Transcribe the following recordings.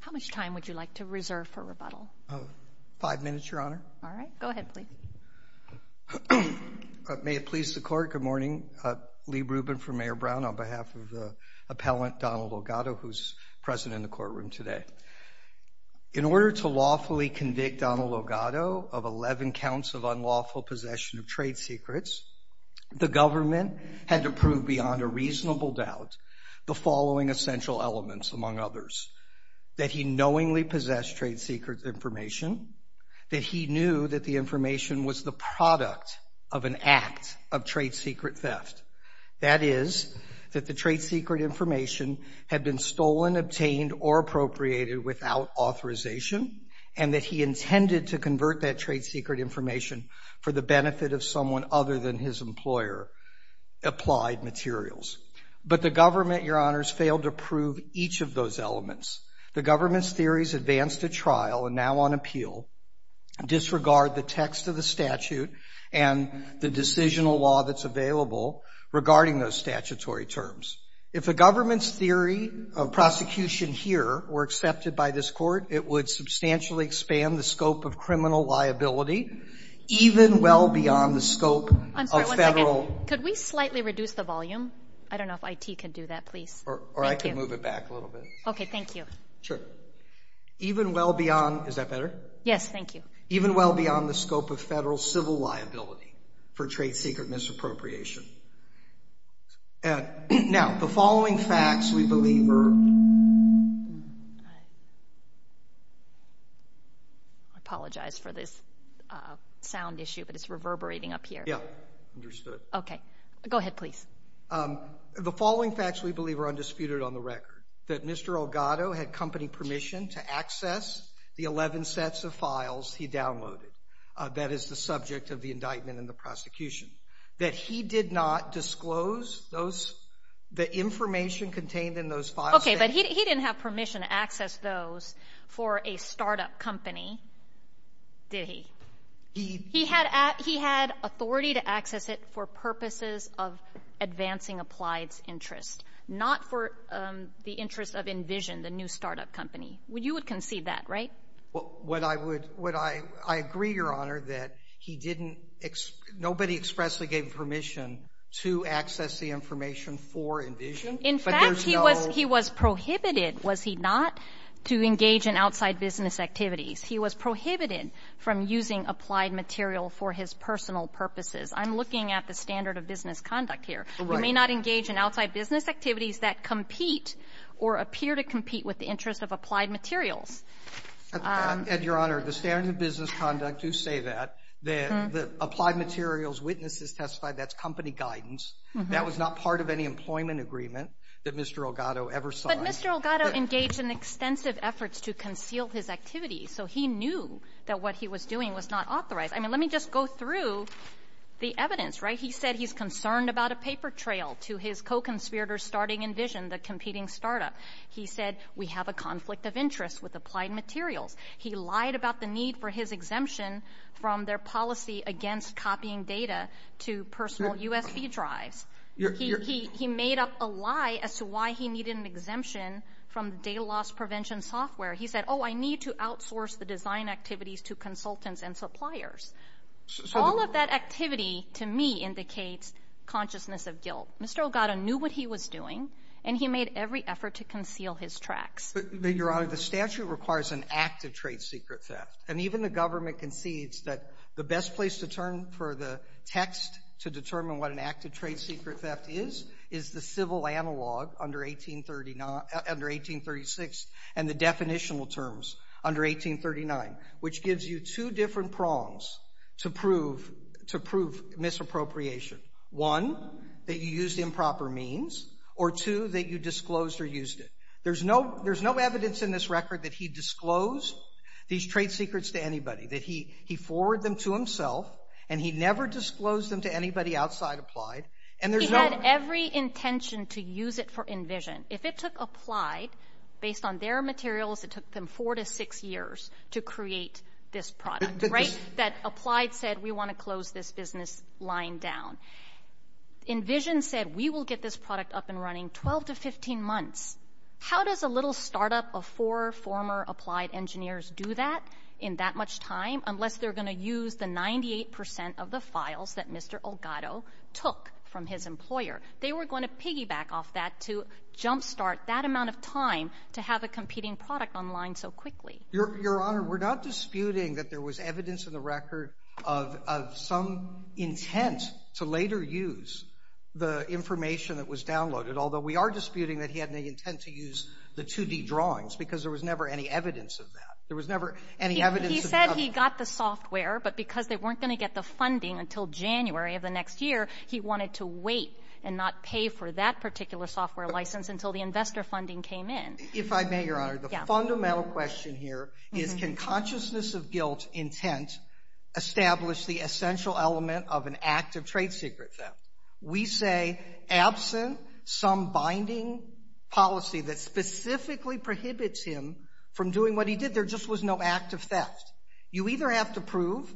How much time would you like to reserve for rebuttal? Five minutes, Your Honor. All right. Go ahead, please. May it please the Court, good morning. Lee Rubin for Mayor Brown on behalf of the appellant Donald Olgado, who is present in the courtroom today. In order to lawfully convict Donald Olgado of 11 counts of unlawful possession of trade secrets, the government had to prove beyond a reasonable doubt the following essential elements, among others, that he knowingly possessed trade secret information, that he knew that the information was the product of an act of trade secret theft. That is, that the trade secret information had been stolen, obtained, or appropriated without authorization, and that he intended to convert that trade secret information for the benefit of someone other than his employer, applied materials. But the government, Your Honors, failed to prove each of those elements. The government's theories advanced at trial and now on appeal disregard the text of the statute and the decisional law that's available regarding those statutory terms. If the government's theory of prosecution here were accepted by this Court, it would substantially expand the scope of criminal liability even well beyond the scope of federal. I'm sorry, one second. Could we slightly reduce the volume? I don't know if IT can do that, please. Or I could move it back a little bit. Okay, thank you. Sure. Even well beyond—is that better? Yes, thank you. Even well beyond the scope of federal civil liability for trade secret misappropriation. Now, the following facts we believe are— I apologize for this sound issue, but it's reverberating up here. Yeah, understood. Okay. Go ahead, please. The following facts we believe are undisputed on the record, that Mr. Elgato had company permission to access the 11 sets of files he downloaded that is the subject of the indictment in the prosecution, that he did not disclose those—the information contained in those files. Okay, but he didn't have permission to access those for a startup company, did he? He— He had authority to access it for purposes of advancing applied interest, not for the interest of Envision, the new startup company. You would concede that, right? What I would — I agree, Your Honor, that he didn't — nobody expressly gave permission to access the information for Envision, but there's no— In fact, he was prohibited, was he not, to engage in outside business activities. He was prohibited from using applied material for his personal purposes. I'm looking at the standard of business conduct here. You may not engage in outside business activities that compete or appear to compete with the interest of applied materials. Ed, Your Honor, the standard of business conduct, you say that, that applied materials, witnesses testified that's company guidance. That was not part of any employment agreement that Mr. Elgato ever saw. Well, Mr. Elgato engaged in extensive efforts to conceal his activities. So he knew that what he was doing was not authorized. I mean, let me just go through the evidence, right? He said he's concerned about a paper trail to his co-conspirators starting Envision, the competing startup. He said we have a conflict of interest with applied materials. He lied about the need for his exemption from their policy against copying data to personal USB drives. He made up a lie as to why he needed an exemption from data loss prevention software. He said, oh, I need to outsource the design activities to consultants and suppliers. All of that activity, to me, indicates consciousness of guilt. Mr. Elgato knew what he was doing, and he made every effort to conceal his tracks. But, Your Honor, the statute requires an act of trade secret theft. And even the government concedes that the best place to turn for the text to determine what an act of trade secret theft is is the civil analog under 1836 and the definitional terms under 1839, which gives you two different prongs to prove misappropriation. One, that you used improper means, or two, that you disclosed or used it. There's no evidence in this record that he disclosed these trade secrets to anybody, that he forwarded them to himself, and he never disclosed them to anybody outside Applied, and there's no ---- He had every intention to use it for Envision. If it took Applied, based on their materials, it took them four to six years to create this product, right? That Applied said, we want to close this business line down. Envision said, we will get this product up and running 12 to 15 months. How does a little startup of four former Applied engineers do that in that much time, unless they're going to use the 98 percent of the files that Mr. Olgado took from his employer? They were going to piggyback off that to jumpstart that amount of time to have a competing product online so quickly. Your Honor, we're not disputing that there was evidence in the record of some intent to later use the information that was downloaded, although we are disputing that he had any intent to use the 2D drawings, because there was never any evidence of that. There was never any evidence of that. He said he got the software, but because they weren't going to get the funding until January of the next year, he wanted to wait and not pay for that particular software license until the investor funding came in. If I may, Your Honor, the fundamental question here is, can consciousness of guilt intent establish the essential element of an act of trade secret theft? We say, absent some binding policy that specifically prohibits him from doing what he did, there just was no act of theft. You either have to prove,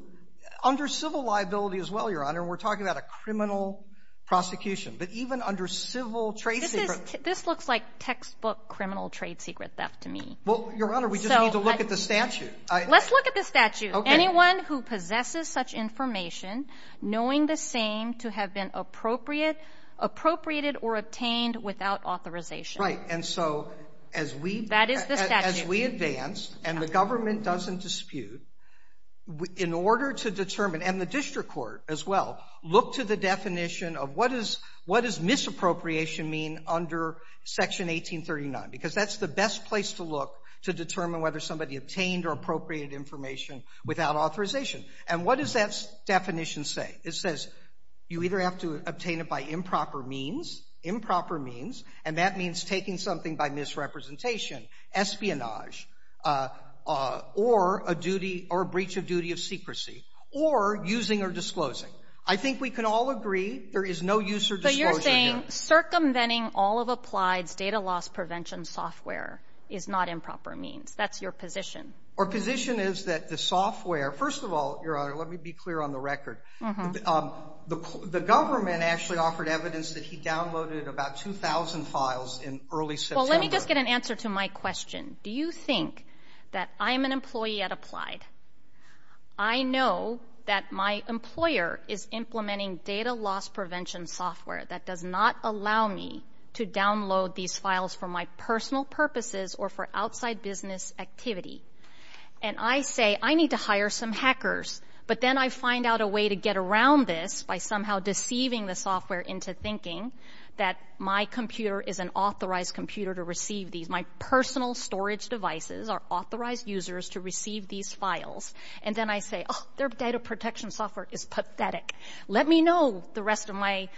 under civil liability as well, Your Honor, and we're talking about a criminal prosecution, but even under civil trade secret. This looks like textbook criminal trade secret theft to me. Well, Your Honor, we just need to look at the statute. Let's look at the statute. Anyone who possesses such information knowing the same to have been appropriated or obtained without authorization. Right, and so as we advance, and the government doesn't dispute, in order to determine, and the district court as well, look to the definition of what does misappropriation mean under Section 1839? Because that's the best place to look to determine whether somebody obtained or appropriated information without authorization. And what does that definition say? It says you either have to obtain it by improper means, improper means, and that means taking something by misrepresentation, espionage, or a duty or breach of duty of secrecy, or using or disclosing. I think we can all agree there is no use or disclosure here. But you're saying circumventing all of applied data loss prevention software is not improper means. That's your position. Our position is that the software, first of all, Your Honor, let me be clear on the record, the government actually offered evidence that he downloaded about 2,000 files in early September. Well, let me just get an answer to my question. Do you think that I'm an employee at Applied, I know that my employer is implementing data loss prevention software that does not allow me to download these files for my personal purposes or for outside business activity, and I say I need to hire some hackers, but then I find out a way to get around this by somehow deceiving the software into thinking that my computer is an authorized computer to receive these. My personal storage devices are authorized users to receive these files. And then I say, oh, their data protection software is pathetic. Let me know, the rest of my,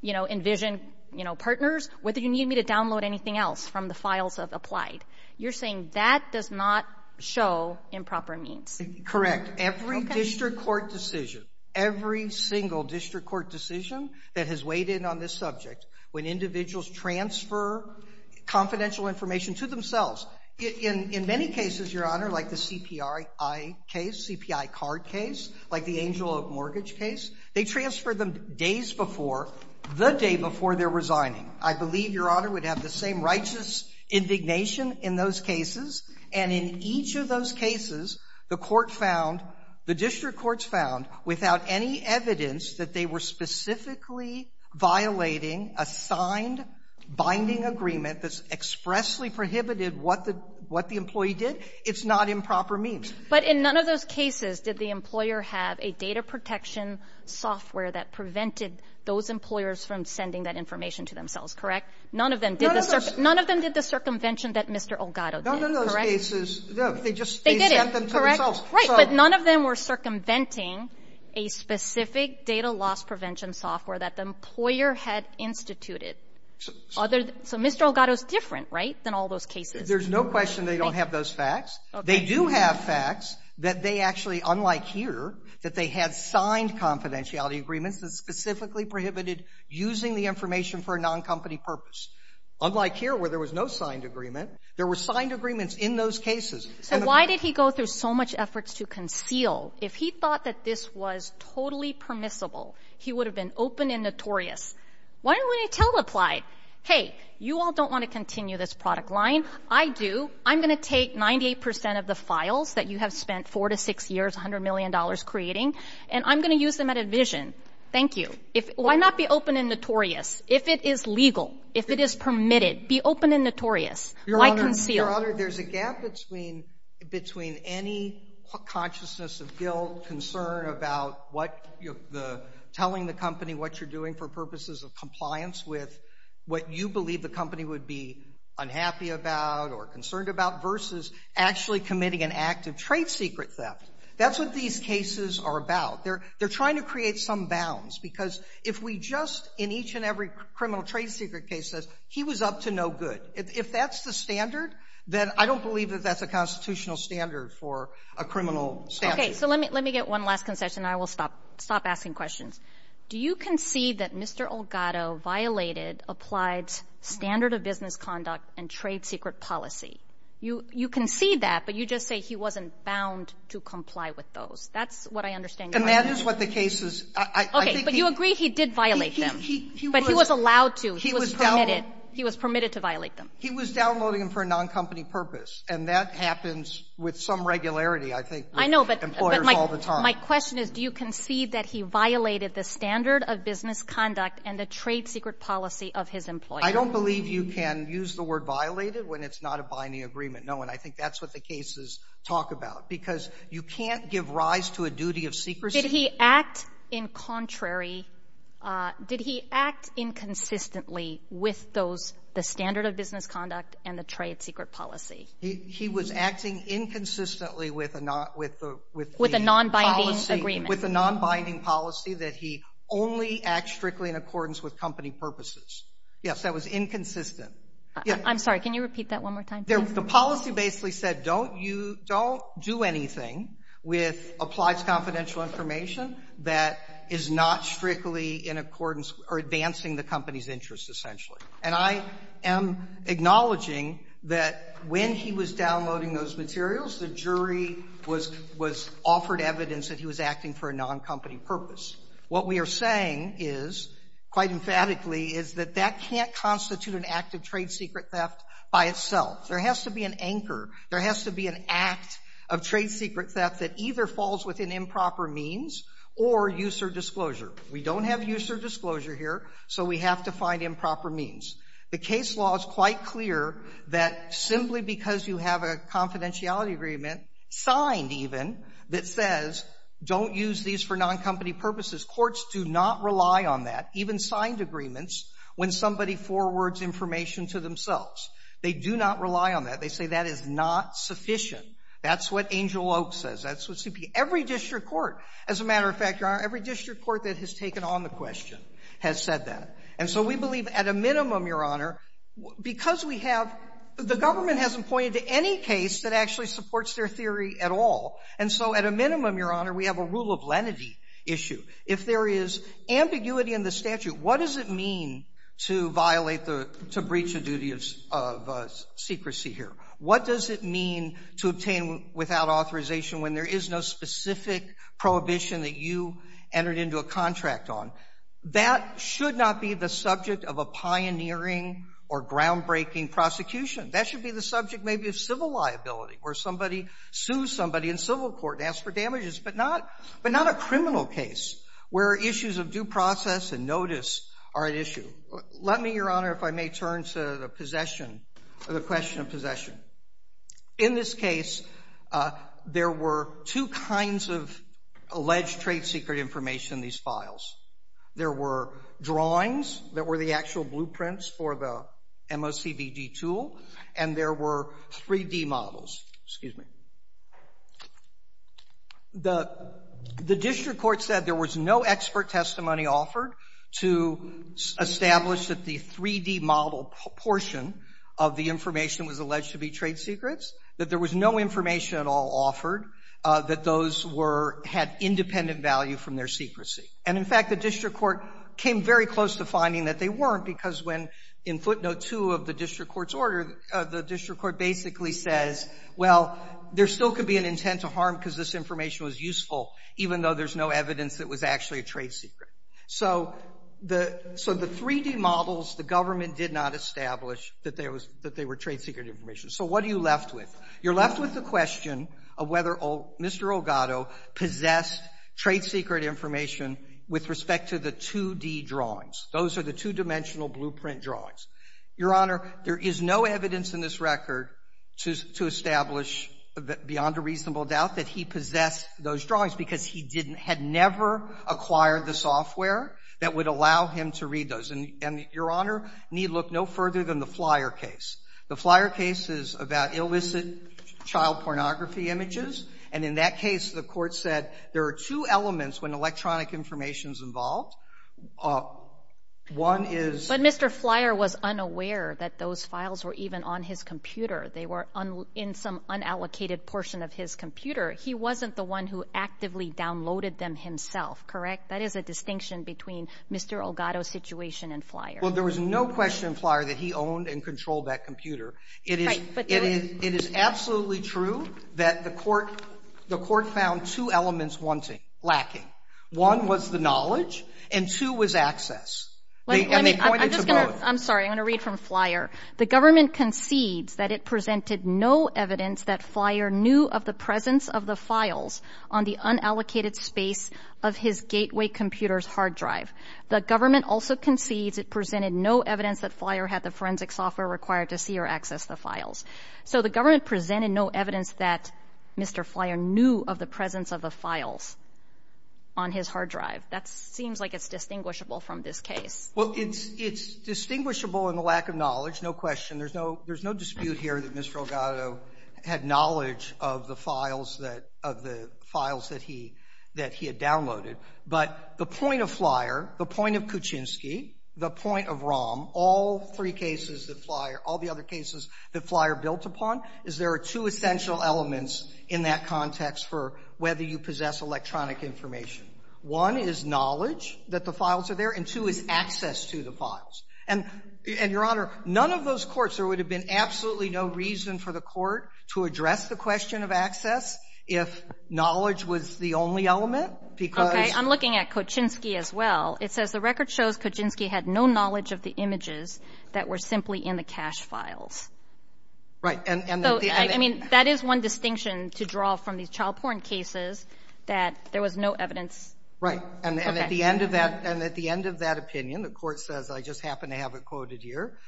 you know, envisioned, you know, partners, whether you need me to download anything else from the files of Applied. You're saying that does not show improper means. Correct. Every district court decision, every single district court decision that has weighed in on this subject, when individuals transfer confidential information to themselves in many cases, Your Honor, like the CPI case, CPI card case, like the Angel of Mortgage case, they transfer them days before, the day before they're resigning. I believe, Your Honor, would have the same righteous indignation in those cases. And in each of those cases, the court found, the district courts found, without any evidence that they were specifically violating a signed binding agreement that expressly prohibited what the employee did, it's not improper means. But in none of those cases did the employer have a data protection software that prevented those employers from sending that information to themselves, correct? None of them did the circumvention that Mr. Elgato did, correct? None of those cases. They just sent them to themselves. Right. But none of them were circumventing a specific data loss prevention software that the employer had instituted. So Mr. Elgato is different, right, than all those cases? There's no question they don't have those facts. They do have facts that they actually, unlike here, that they had signed confidentiality agreements that specifically prohibited using the information for a noncompany purpose. Unlike here, where there was no signed agreement, there were signed agreements in those cases. So why did he go through so much efforts to conceal? Why didn't we tell him to apply? Hey, you all don't want to continue this product line. I do. I'm going to take 98 percent of the files that you have spent four to six years, $100 million creating, and I'm going to use them at a vision. Thank you. Why not be open and notorious? If it is legal, if it is permitted, be open and notorious. Why conceal? Your Honor, there's a gap between any consciousness of guilt, concern about what telling the company what you're doing for purposes of compliance with what you believe the company would be unhappy about or concerned about versus actually committing an act of trade secret theft. That's what these cases are about. They're trying to create some bounds, because if we just, in each and every criminal trade secret case, said he was up to no good, if that's the standard, then I don't believe that that's a constitutional standard for a criminal statute. Okay. So let me get one last concession. I will stop asking questions. Do you concede that Mr. Elgato violated applied standard of business conduct and trade secret policy? You concede that, but you just say he wasn't bound to comply with those. That's what I understand your argument. And that is what the case is. Okay. But you agree he did violate them. But he was allowed to. He was permitted. He was permitted to violate them. He was downloading them for a noncompany purpose, and that happens with some regularity, I think, with employers all the time. My question is, do you concede that he violated the standard of business conduct and the trade secret policy of his employer? I don't believe you can use the word violated when it's not a binding agreement. No, and I think that's what the cases talk about, because you can't give rise to a duty of secrecy. Did he act in contrary? Did he act inconsistently with those, the standard of business conduct and the trade secret policy? He was acting inconsistently with the policy. With a nonbinding agreement. With a nonbinding policy that he only acts strictly in accordance with company purposes. Yes, that was inconsistent. I'm sorry. Can you repeat that one more time, please? The policy basically said, don't do anything with applied confidential information that is not strictly in accordance or advancing the company's interest, essentially. And I am acknowledging that when he was downloading those materials, the jury was offered evidence that he was acting for a noncompany purpose. What we are saying is, quite emphatically, is that that can't constitute an act of trade secret theft by itself. There has to be an anchor. There has to be an act of trade secret theft that either falls within improper means or use or disclosure. We don't have use or disclosure here, so we have to find improper means. The case law is quite clear that simply because you have a confidentiality agreement, signed even, that says, don't use these for noncompany purposes, courts do not rely on that, even signed agreements, when somebody forwards information to themselves. They do not rely on that. They say that is not sufficient. That's what Angel Oak says. That's what CP. Every district court, as a matter of fact, Your Honor, every district court that has taken on the question has said that. And so we believe at a minimum, Your Honor, because we have the government hasn't pointed to any case that actually supports their theory at all. And so at a minimum, Your Honor, we have a rule of lenity issue. If there is ambiguity in the statute, what does it mean to violate the to breach a duty of secrecy here? What does it mean to obtain without authorization when there is no specific prohibition that you entered into a contract on? That should not be the subject of a pioneering or groundbreaking prosecution. That should be the subject maybe of civil liability, where somebody sues somebody in civil court and asks for damages, but not a criminal case, where issues of due process and notice are at issue. Let me, Your Honor, if I may turn to the possession, the question of possession. In this case, there were two kinds of alleged trade secret information in these files. There were drawings that were the actual blueprints for the MOCBD tool, and there were 3D models. Excuse me. The district court said there was no expert testimony offered to establish that the 3D model portion of the information was alleged to be trade secrets, that there was no information at all offered that those were — had independent value from their secrecy. And in fact, the district court came very close to finding that they weren't, because when, in footnote 2 of the district court's order, the district court basically says, well, there still could be an intent to harm because this information was useful, even though there's no evidence that it was actually a trade secret. So the 3D models, the government did not establish that they were trade secret information. So what are you left with? You're left with the question of whether Mr. Elgato possessed trade secret information with respect to the 2D drawings. Those are the two-dimensional blueprint drawings. Your Honor, there is no evidence in this record to establish beyond a reasonable doubt that he possessed those drawings, because he didn't — had never acquired the software that would allow him to read those. And, Your Honor, need look no further than the Flyer case. The Flyer case is about illicit child pornography images. And in that case, the court said there are two elements when electronic information is involved. One is — But Mr. Flyer was unaware that those files were even on his computer. They were in some unallocated portion of his computer. He wasn't the one who actively downloaded them himself, correct? That is a distinction between Mr. Elgato's situation and Flyer. Well, there was no question in Flyer that he owned and controlled that computer. Right, but — It is absolutely true that the court found two elements wanting, lacking. One was the knowledge, and two was access. And they pointed to both. I'm sorry. I'm going to read from Flyer. The government concedes that it presented no evidence that Flyer knew of the presence of the files on the unallocated space of his Gateway computer's hard drive. The government also concedes it presented no evidence that Flyer had the forensic software required to see or access the files. So the government presented no evidence that Mr. Flyer knew of the presence of the files on his hard drive. That seems like it's distinguishable from this case. Well, it's — it's distinguishable in the lack of knowledge, no question. There's no — there's no dispute here that Mr. Elgato had knowledge of the files that — of the files that he — that he had downloaded. But the point of Flyer, the point of Kuczynski, the point of Rahm, all three cases that Flyer — all the other cases that Flyer built upon, is there are two essential elements in that context for whether you possess electronic information. One is knowledge that the files are there, and two is access to the files. And — and, Your Honor, none of those courts, there would have been absolutely no reason for the court to address the question of access if knowledge was the only element, because — Okay. I'm looking at Kuczynski as well. It says the record shows Kuczynski had no knowledge of the images that were simply in the cache files. Right. And the — So, I mean, that is one distinction to draw from these child porn cases, that there was no evidence. Right. And at the end of that — and at the end of that opinion, the court says — I just happen to have it quoted here —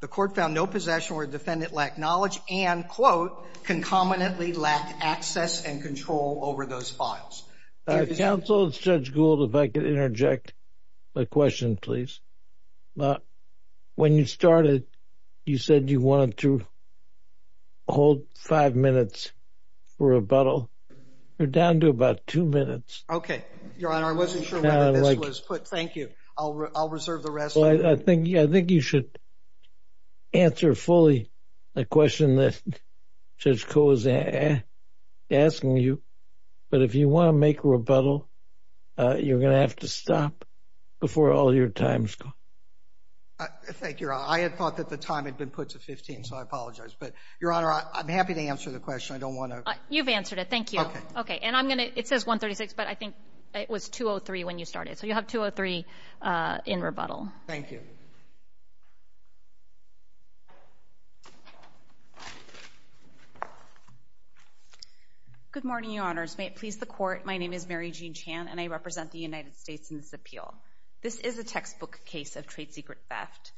the court found no possession where the defendant lacked knowledge and, quote, concomitantly lacked access and control over those files. Counsel, Judge Gould, if I could interject my question, please. When you started, you said you wanted to hold five minutes for rebuttal. You're down to about two minutes. Okay. Your Honor, I wasn't sure when this was put. Thank you. I'll reserve the rest. Well, I think you should answer fully the question that Judge Koh is asking you. But if you want to make rebuttal, you're going to have to stop before all your time is gone. Thank you, Your Honor. I had thought that the time had been put to 15, so I apologize. But, Your Honor, I'm happy to answer the question. I don't want to — You've answered it. Thank you. Okay. Okay. And I'm going to — it says 1.36, but I think it was 2.03 when you started. So you'll have 2.03 in rebuttal. Thank you. Good morning, Your Honors. May it please the Court, my name is Mary Jean Chan, and I represent the United States in this appeal. This is a textbook case of trade secret theft.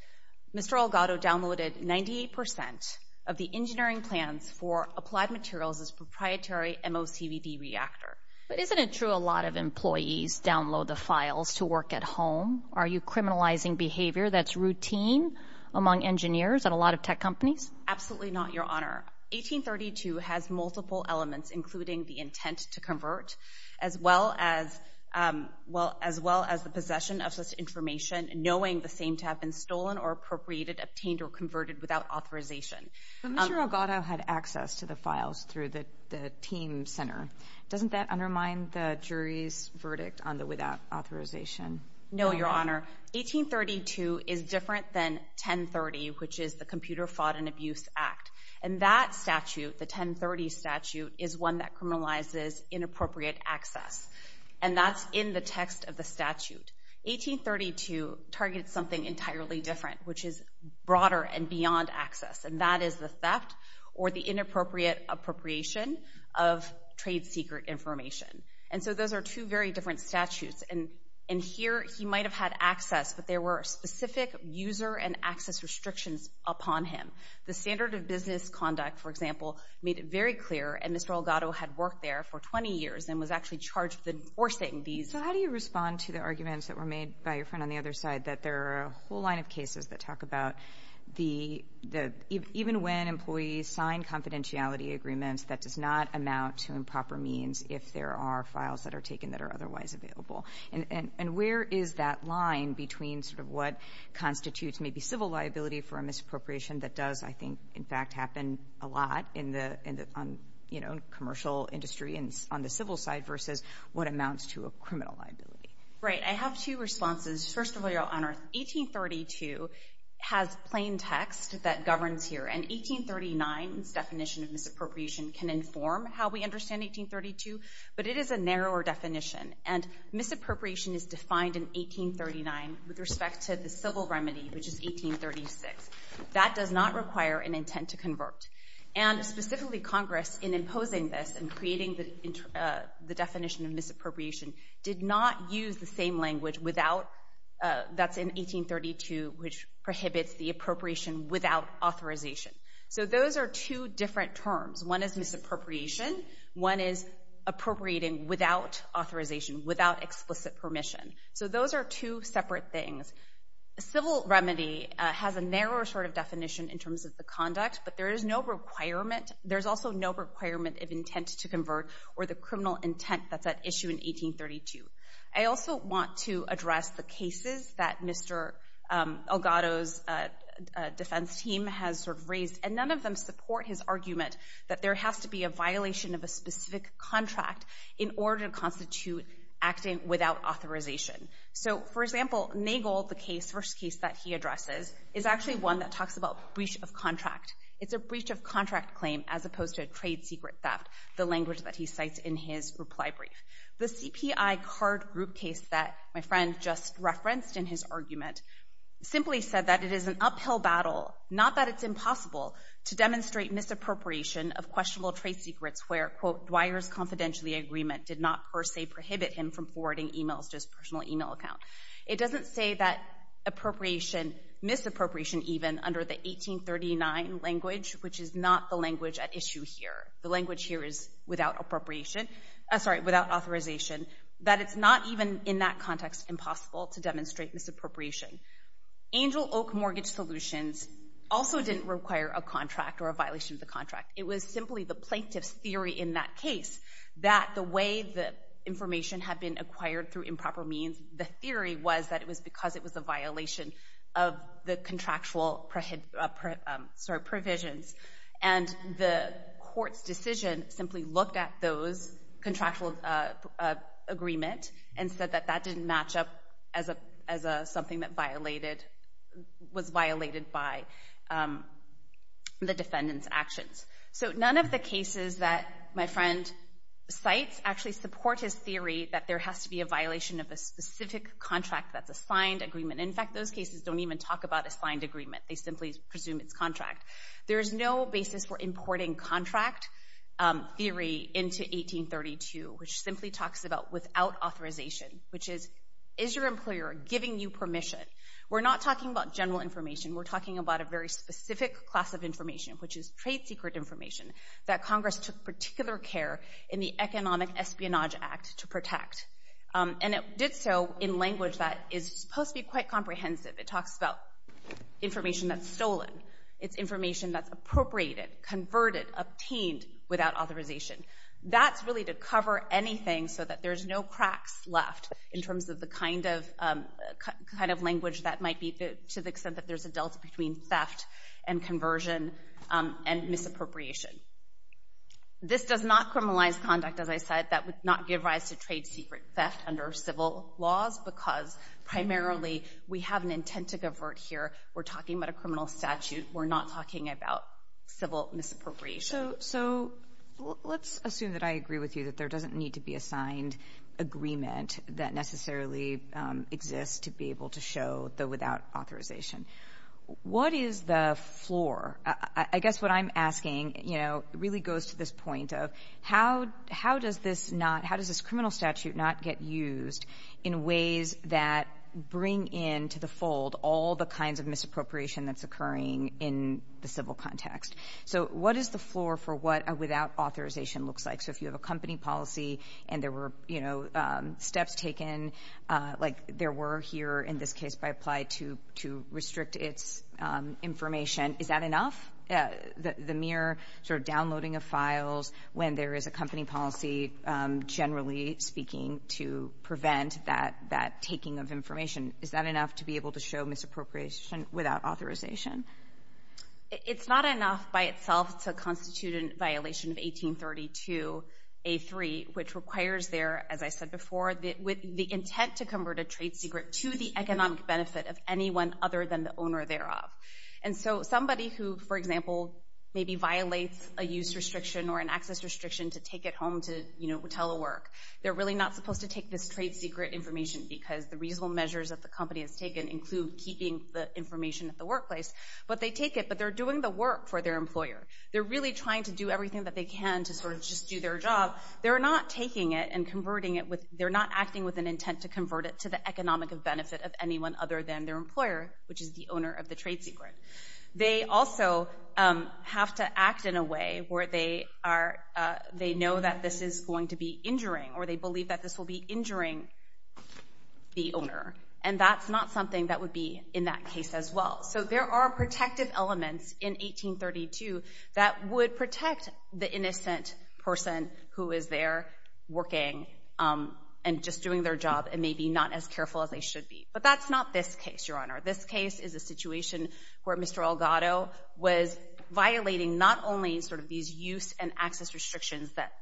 Mr. Elgato downloaded 98 percent of the engineering plans for Applied Materials' proprietary MOCVD reactor. But isn't it true a lot of employees download the files to work at home? Are you criminalizing behavior that's routine among engineers at a lot of tech companies? Absolutely not, Your Honor. 1832 has multiple elements, including the intent to convert, as well as the possession of such information, knowing the same to have been stolen or appropriated, obtained or converted without authorization. But Mr. Elgato had access to the files through the team center. Doesn't that undermine the jury's verdict on the without authorization? No, Your Honor. 1832 is different than 1030, which is the Computer Fraud and Abuse Act. And that statute, the 1030 statute, is one that criminalizes inappropriate access. And that's in the text of the statute. 1832 targets something entirely different, which is broader and beyond access. And that is the theft or the inappropriate appropriation of trade secret information. And so those are two very different statutes. And here he might have had access, but there were specific user and access restrictions upon him. The standard of business conduct, for example, made it very clear, and Mr. Elgato had worked out there for 20 years and was actually charged with enforcing these. So how do you respond to the arguments that were made by your friend on the other side, that there are a whole line of cases that talk about even when employees sign confidentiality agreements, that does not amount to improper means if there are files that are taken that are otherwise available? And where is that line between sort of what constitutes maybe civil liability for a misappropriation that does, I think, in fact, happen a lot in the, you know, commercial industry and on the civil side versus what amounts to a criminal liability? Right. I have two responses. First of all, Your Honor, 1832 has plain text that governs here. And 1839's definition of misappropriation can inform how we understand 1832, but it is a narrower definition. And misappropriation is defined in 1839 with respect to the civil remedy, which is 1836. That does not require an intent to convert. And specifically Congress, in imposing this and creating the definition of misappropriation, did not use the same language without, that's in 1832, which prohibits the appropriation without authorization. So those are two different terms. One is misappropriation. One is appropriating without authorization, without explicit permission. So those are two separate things. Civil remedy has a narrower sort of definition in terms of the conduct, but there is no requirement. There's also no requirement of intent to convert or the criminal intent that's at issue in 1832. I also want to address the cases that Mr. Elgato's defense team has sort of raised, and none of them support his argument that there has to be a violation of a specific contract in order to constitute acting without authorization. So, for example, Nagel, the case, first case that he addresses, is actually one that talks about breach of contract. It's a breach of contract claim as opposed to a trade secret theft, the language that he cites in his reply brief. The CPI card group case that my friend just referenced in his argument simply said that it is an uphill battle, not that it's impossible, to demonstrate misappropriation of questionable trade secrets where, quote, Dwyer's confidentiality agreement did not per se prohibit him from forwarding emails to his personal email account. It doesn't say that appropriation, misappropriation even, under the 1839 language, which is not the language at issue here, the language here is without appropriation, sorry, without authorization, that it's not even in that context impossible to demonstrate misappropriation. Angel Oak Mortgage Solutions also didn't require a contract or a violation of the contract. It was simply the plaintiff's theory in that case that the way the information had been acquired through improper means, the theory was that it was because it was a violation of the contractual, sorry, provisions. And the court's decision simply looked at those contractual agreement and said that that didn't match up as something that was violated by the defendant's actions. So none of the cases that my friend cites actually support his theory that there has to be a violation of a specific contract that's a signed agreement. In fact, those cases don't even talk about a signed agreement. They simply presume it's contract. There is no basis for importing contract theory into 1832, which simply talks about without authorization, which is, is your employer giving you permission? We're not talking about general information. We're talking about a very specific class of information, which is trade secret information, that Congress took particular care in the Economic Espionage Act to protect. And it did so in language that is supposed to be quite comprehensive. It talks about information that's stolen. It's information that's appropriated, converted, obtained without authorization. That's really to cover anything so that there's no cracks left in terms of the kind of language that might be to the extent that there's a delta between theft and conversion and misappropriation. This does not criminalize conduct, as I said. That would not give rise to trade secret theft under civil laws because primarily we have an intent to convert here. We're talking about a criminal statute. We're not talking about civil misappropriation. So let's assume that I agree with you that there doesn't need to be a signed agreement that necessarily exists to be able to show the without authorization. What is the floor? I guess what I'm asking, you know, really goes to this point of how does this not, how does this criminal statute not get used in ways that bring into the fold all the kinds of misappropriation that's occurring in the civil context? So what is the floor for what a without authorization looks like? So if you have a company policy and there were, you know, steps taken, like there were here in this case by Applied to restrict its information, is that enough? The mere sort of downloading of files when there is a company policy, generally speaking, to prevent that taking of information, is that enough to be able to show misappropriation without authorization? It's not enough by itself to constitute a violation of 1832A3, which requires there, as I said before, the intent to convert a trade secret to the economic benefit of anyone other than the owner thereof. And so somebody who, for example, maybe violates a use restriction or an access restriction to take it home to, you know, tell a work, they're really not supposed to take this trade secret information because the reasonable measures that the company has taken include keeping the information at the workplace. But they take it, but they're doing the work for their employer. They're really trying to do everything that they can to sort of just do their job. They're not taking it and converting it. They're not acting with an intent to convert it to the economic benefit of anyone other than their employer, which is the owner of the trade secret. They also have to act in a way where they know that this is going to be injuring or they believe that this will be injuring the owner. And that's not something that would be in that case as well. So there are protective elements in 1832 that would protect the innocent person who is there working and just doing their job and maybe not as careful as they should be. But that's not this case, Your Honor. This case is a situation where Mr. Elgato was violating not only sort of these use and access restrictions that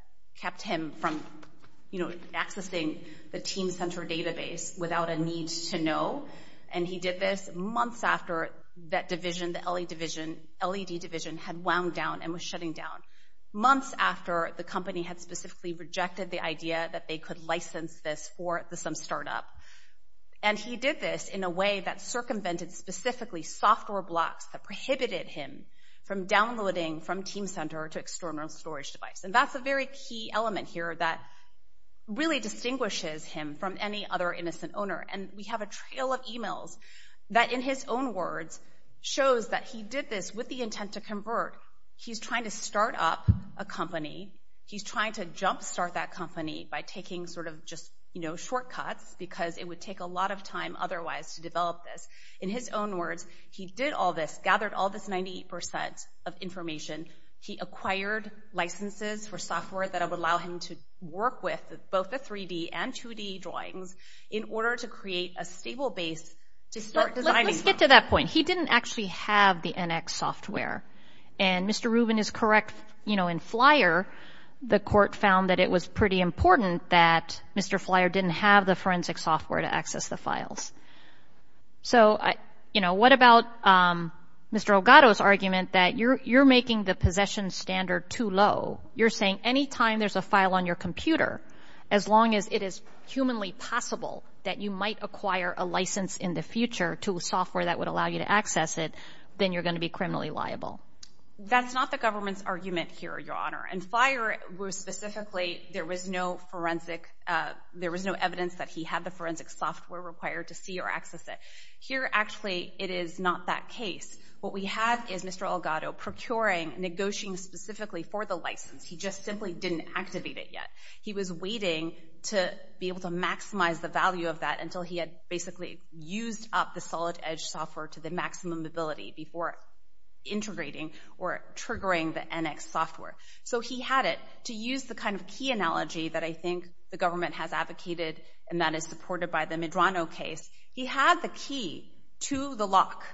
kept him from, you know, accessing the team center database without a need to know. And he did this months after that division, the LED division, had wound down and was shutting down, months after the company had specifically rejected the idea that they could license this for some startup. And he did this in a way that circumvented specifically software blocks that prohibited him from downloading from team center to external storage device. And that's a very key element here that really distinguishes him from any other innocent owner. And we have a trail of emails that, in his own words, shows that he did this with the intent to convert. He's trying to start up a company. He's trying to jumpstart that company by taking sort of just, you know, shortcuts because it would take a lot of time otherwise to develop this. In his own words, he did all this, gathered all this 98% of information. He acquired licenses for software that would allow him to work with both the 3D and 2D drawings in order to create a stable base to start designing. But let's get to that point. He didn't actually have the NX software. And Mr. Rubin is correct, you know, in FLYER, the court found that it was pretty important that Mr. FLYER didn't have the forensic software to access the files. So, you know, what about Mr. Elgato's argument that you're making the possession standard too low? You're saying any time there's a file on your computer, as long as it is humanly possible that you might acquire a license in the future to a software that would allow you to access it, then you're going to be criminally liable. That's not the government's argument here, Your Honor. In FLYER, specifically, there was no evidence that he had the forensic software required to see or access it. Here, actually, it is not that case. What we have is Mr. Elgato procuring, negotiating specifically for the license. He just simply didn't activate it yet. He was waiting to be able to maximize the value of that until he had basically used up the Solid Edge software to the maximum ability before integrating or triggering the NX software. So he had it. To use the kind of key analogy that I think the government has advocated and that is supported by the Medrano case, he had the key to the lock.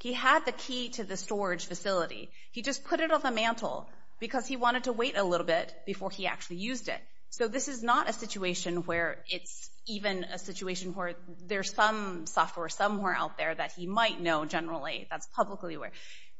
He had the key to the storage facility. He just put it on the mantle because he wanted to wait a little bit before he actually used it. So this is not a situation where it's even a situation where there's some software somewhere out there that he might know generally that's publicly aware.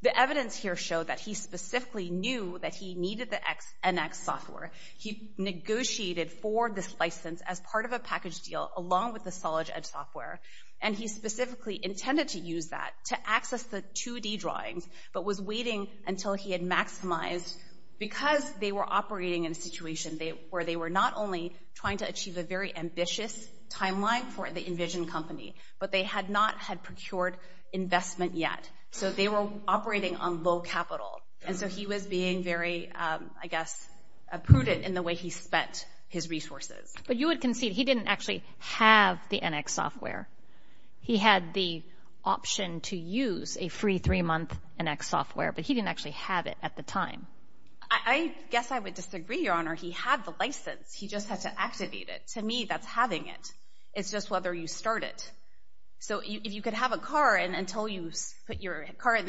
The evidence here showed that he specifically knew that he needed the NX software. He negotiated for this license as part of a package deal along with the Solid Edge software, and he specifically intended to use that to access the 2D drawings but was waiting until he had maximized because they were operating in a situation where they were not only trying to achieve a very ambitious timeline for the Envision company, but they had not had procured investment yet. So they were operating on low capital. And so he was being very, I guess, prudent in the way he spent his resources. But you would concede he didn't actually have the NX software. He had the option to use a free three-month NX software, but he didn't actually have it at the time. I guess I would disagree, Your Honor. He had the license. He just had to activate it. To me, that's having it. It's just whether you start it. So if you could have a car and until you start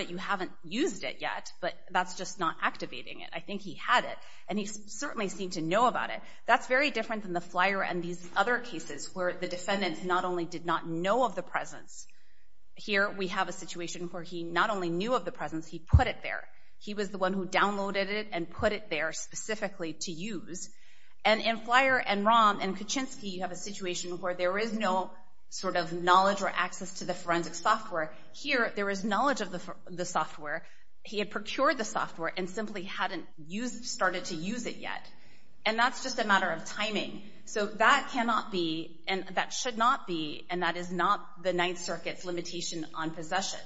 it, you haven't used it yet, but that's just not activating it. I think he had it, and he certainly seemed to know about it. That's very different than the Flyer and these other cases where the defendant not only did not know of the presence. Here we have a situation where he not only knew of the presence, he put it there. He was the one who downloaded it and put it there specifically to use. And in Flyer and Rahm and Kuczynski, you have a situation where there is no sort of knowledge or access to the forensic software. Here, there is knowledge of the software. He had procured the software and simply hadn't started to use it yet. And that's just a matter of timing. So that cannot be, and that should not be, and that is not the Ninth Circuit's limitation on possession.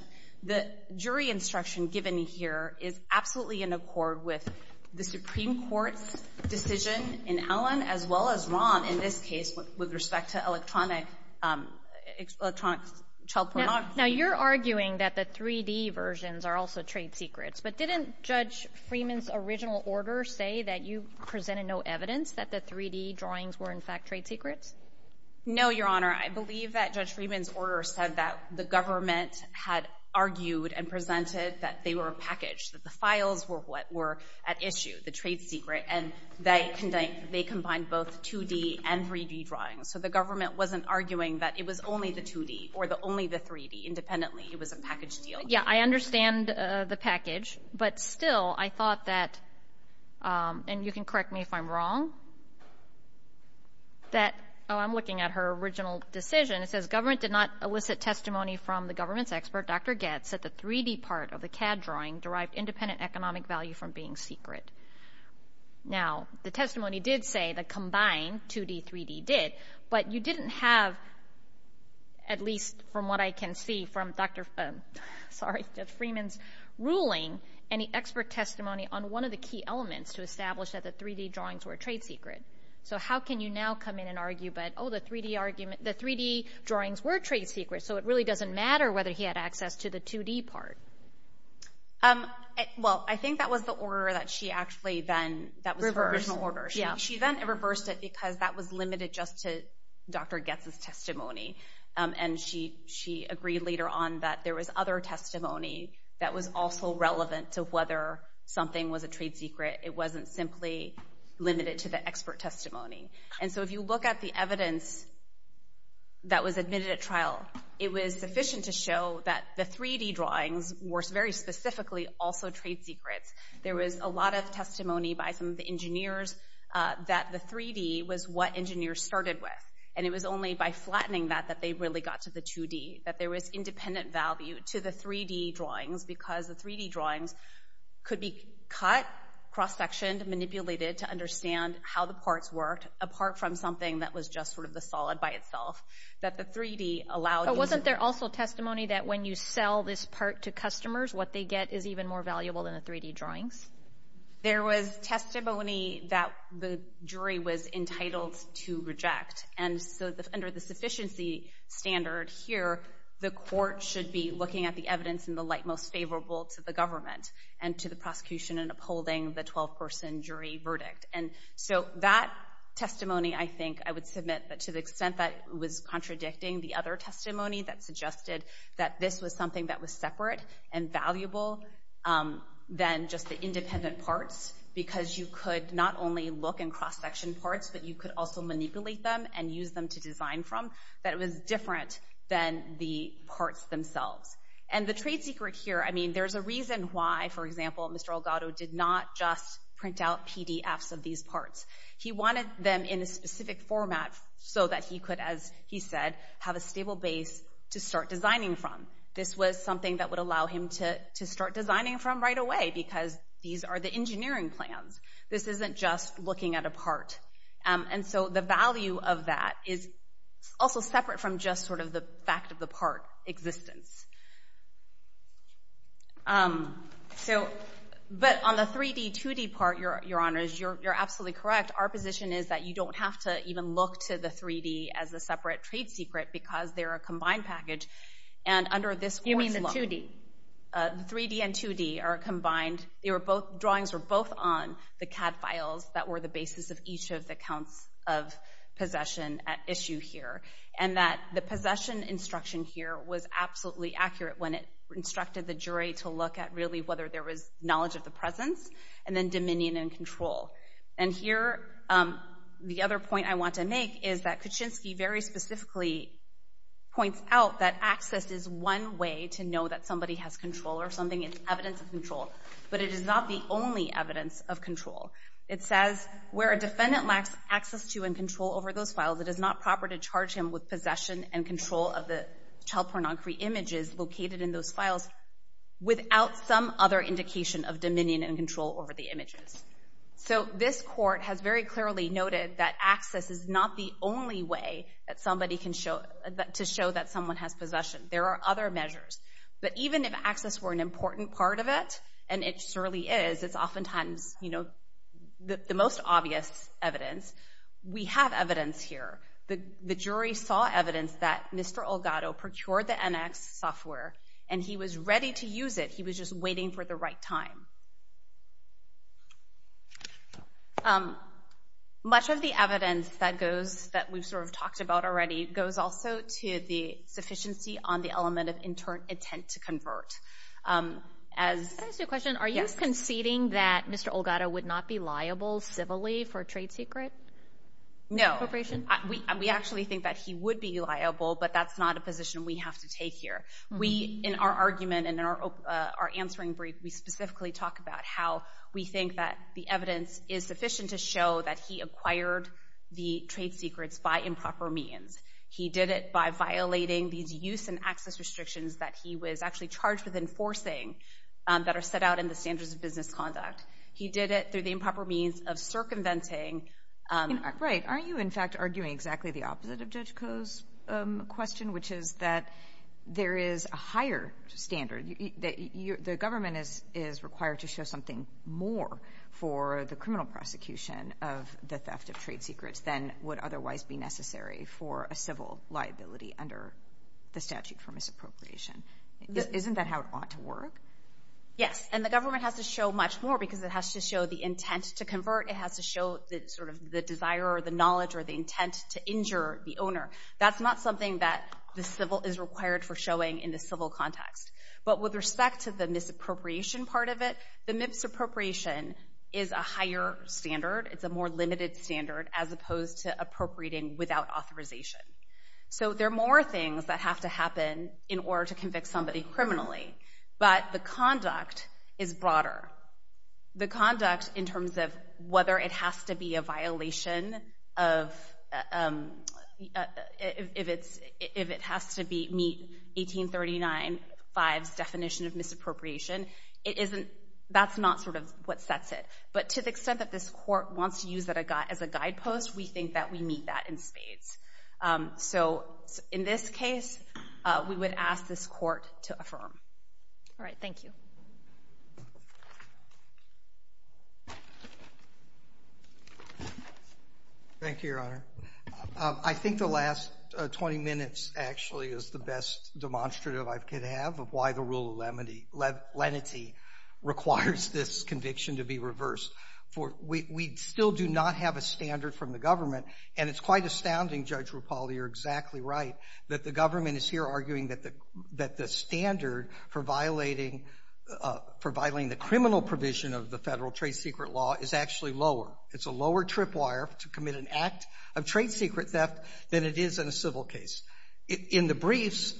The jury instruction given here is absolutely in accord with the Supreme Court's decision in Allen as well as Rahm in this case with respect to electronic child pornography. Now, you're arguing that the 3-D versions are also trade secrets, but didn't Judge Freeman's original order say that you presented no evidence that the 3-D drawings were in fact trade secrets? No, Your Honor. I believe that Judge Freeman's order said that the government had argued and presented that they were a package, that the files were what were at issue, the trade secret, and they combined both 2-D and 3-D drawings. So the government wasn't arguing that it was only the 2-D or only the 3-D. Independently, it was a package deal. Yeah, I understand the package, but still I thought that, and you can correct me if I'm wrong, that, oh, I'm looking at her original decision. It says government did not elicit testimony from the government's expert, Dr. Goetz, that the 3-D part of the CAD drawing derived independent economic value from being secret. Now, the testimony did say that combined 2-D, 3-D did, but you didn't have, at least from what I can see from Judge Freeman's ruling, any expert testimony on one of the key elements to establish that the 3-D drawings were trade secret. So how can you now come in and argue, but, oh, the 3-D drawings were trade secret, so it really doesn't matter whether he had access to the 2-D part. Well, I think that was the order that she actually then, that was her original order. She then reversed it because that was limited just to Dr. Goetz's testimony, and she agreed later on that there was other testimony that was also relevant to whether something was a trade secret. It wasn't simply limited to the expert testimony. And so if you look at the evidence that was admitted at trial, it was sufficient to show that the 3-D drawings were very specifically also trade secrets. There was a lot of testimony by some of the engineers that the 3-D was what engineers started with, and it was only by flattening that that they really got to the 2-D, that there was independent value to the 3-D drawings because the 3-D drawings could be cut, cross-sectioned, manipulated to understand how the parts worked, apart from something that was just sort of the solid by itself. But wasn't there also testimony that when you sell this part to customers, what they get is even more valuable than the 3-D drawings? There was testimony that the jury was entitled to reject. And so under the sufficiency standard here, the court should be looking at the evidence in the light most favorable to the government and to the prosecution in upholding the 12-person jury verdict. And so that testimony, I think I would submit that to the extent that it was contradicting the other testimony that suggested that this was something that was separate and valuable than just the independent parts because you could not only look in cross-section parts, but you could also manipulate them and use them to design from, that it was different than the parts themselves. And the trade secret here, I mean, there's a reason why, for example, Mr. Elgato did not just print out PDFs of these parts. He wanted them in a specific format so that he could, as he said, have a stable base to start designing from. This was something that would allow him to start designing from right away because these are the engineering plans. This isn't just looking at a part. And so the value of that is also separate from just sort of the fact of the part existence. So, but on the 3D, 2D part, Your Honors, you're absolutely correct. Our position is that you don't have to even look to the 3D as a separate trade secret because they're a combined package. And under this court's law... You mean the 2D? The 3D and 2D are combined. Drawings were both on the CAD files that were the basis of each of the counts of possession at issue here. And that the possession instruction here was absolutely accurate when it instructed the jury to look at really whether there was knowledge of the presence and then dominion and control. And here, the other point I want to make is that Kuczynski very specifically points out that access is one way to know that somebody has control or something is evidence of control. But it is not the only evidence of control. It says, where a defendant lacks access to and control over those files, it is not proper to charge him with possession and control of the child pornography images located in those files without some other indication of dominion and control over the images. So this court has very clearly noted that access is not the only way to show that someone has possession. There are other measures. But even if access were an important part of it, and it surely is, it's oftentimes the most obvious evidence, we have evidence here. The jury saw evidence that Mr. Olgato procured the NX software, and he was ready to use it. He was just waiting for the right time. Much of the evidence that goes, that we've sort of talked about already, goes also to the sufficiency on the element of intern intent to convert. Can I ask you a question? Are you conceding that Mr. Olgato would not be liable civilly for a trade secret? No. We actually think that he would be liable, but that's not a position we have to take here. In our argument and in our answering brief, we specifically talk about how we think that the evidence is sufficient to show that he acquired the trade secrets by improper means. He did it by violating these use and access restrictions that he was actually charged with enforcing that are set out in the Standards of Business Conduct. He did it through the improper means of circumventing. Right. Aren't you, in fact, arguing exactly the opposite of Judge Koh's question, which is that there is a higher standard? The government is required to show something more for the criminal prosecution of the theft of trade secrets than would otherwise be necessary for a civil liability under the statute for misappropriation. Isn't that how it ought to work? Yes, and the government has to show much more because it has to show the intent to convert. It has to show sort of the desire or the knowledge or the intent to injure the owner. That's not something that the civil is required for showing in the civil context. But with respect to the misappropriation part of it, the misappropriation is a higher standard. It's a more limited standard as opposed to appropriating without authorization. So there are more things that have to happen in order to convict somebody criminally, but the conduct is broader. The conduct in terms of whether it has to be a violation of if it has to meet 1839-5's definition of misappropriation, that's not sort of what sets it. But to the extent that this Court wants to use that as a guidepost, we think that we meet that in spades. So in this case, we would ask this Court to affirm. All right. Thank you. Thank you, Your Honor. I think the last 20 minutes actually is the best demonstrative I could have of why the rule of lenity requires this conviction to be reversed. We still do not have a standard from the government. And it's quite astounding, Judge Rupali, you're exactly right, that the government is here arguing that the standard for violating the criminal provision of the federal trade secret law is actually lower. It's a lower tripwire to commit an act of trade secret theft than it is in a civil case. In the briefs,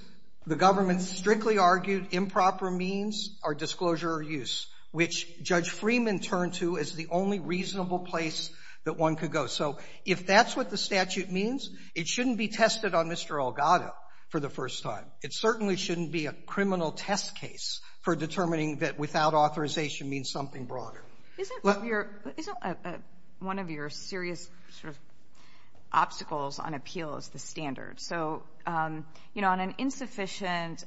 the government strictly argued improper means are disclosure or use, which Judge Freeman turned to as the only reasonable place that one could go. So if that's what the statute means, it shouldn't be tested on Mr. Elgato for the first time. It certainly shouldn't be a criminal test case for determining that without authorization means something broader. Isn't one of your serious sort of obstacles on appeals the standard? So, you know, on an insufficiency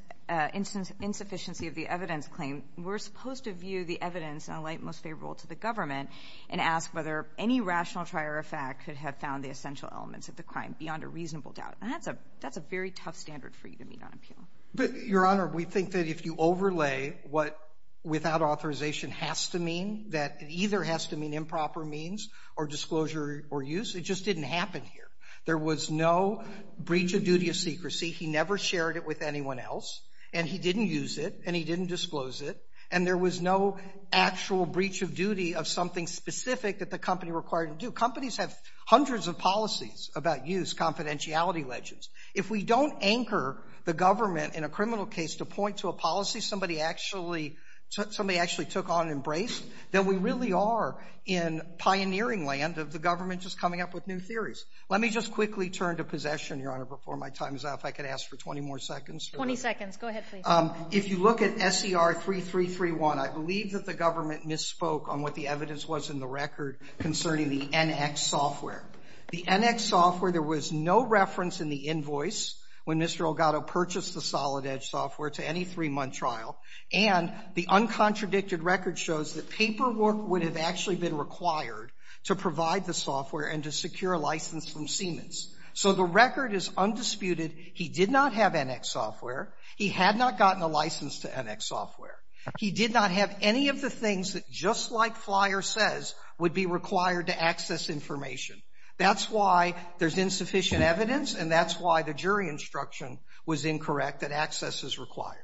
of the evidence claim, we're supposed to view the evidence in a light most favorable to the government and ask whether any rational trier of fact could have found the essential elements of the crime beyond a reasonable doubt. And that's a very tough standard for you to meet on appeal. Your Honor, we think that if you overlay what without authorization has to mean, that it either has to mean improper means or disclosure or use. It just didn't happen here. There was no breach of duty of secrecy. He never shared it with anyone else, and he didn't use it, and he didn't disclose it, and there was no actual breach of duty of something specific that the company required to do. Companies have hundreds of policies about use, confidentiality legends. If we don't anchor the government in a criminal case to point to a policy somebody actually took on and embraced, then we really are in pioneering land of the government just coming up with new theories. Let me just quickly turn to possession, Your Honor, before my time is up. If I could ask for 20 more seconds. 20 seconds. Go ahead, please. If you look at SER3331, I believe that the government misspoke on what the evidence was in the record concerning the NX software. The NX software, there was no reference in the invoice when Mr. Elgato purchased the Solid Edge software to any three-month trial. And the uncontradicted record shows that paperwork would have actually been required to provide the software and to secure a license from Siemens. So the record is undisputed. He did not have NX software. He had not gotten a license to NX software. He did not have any of the things that, just like Flyer says, would be required to access information. That's why there's insufficient evidence, and that's why the jury instruction was incorrect that access is required.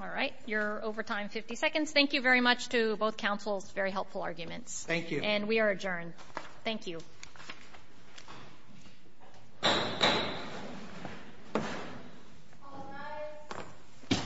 All right. You're over time. 50 seconds. Thank you very much to both counsels. Very helpful arguments. Thank you. And we are adjourned. Thank you. All rise. Ms. Corker, Ms. Sessions, and the jury.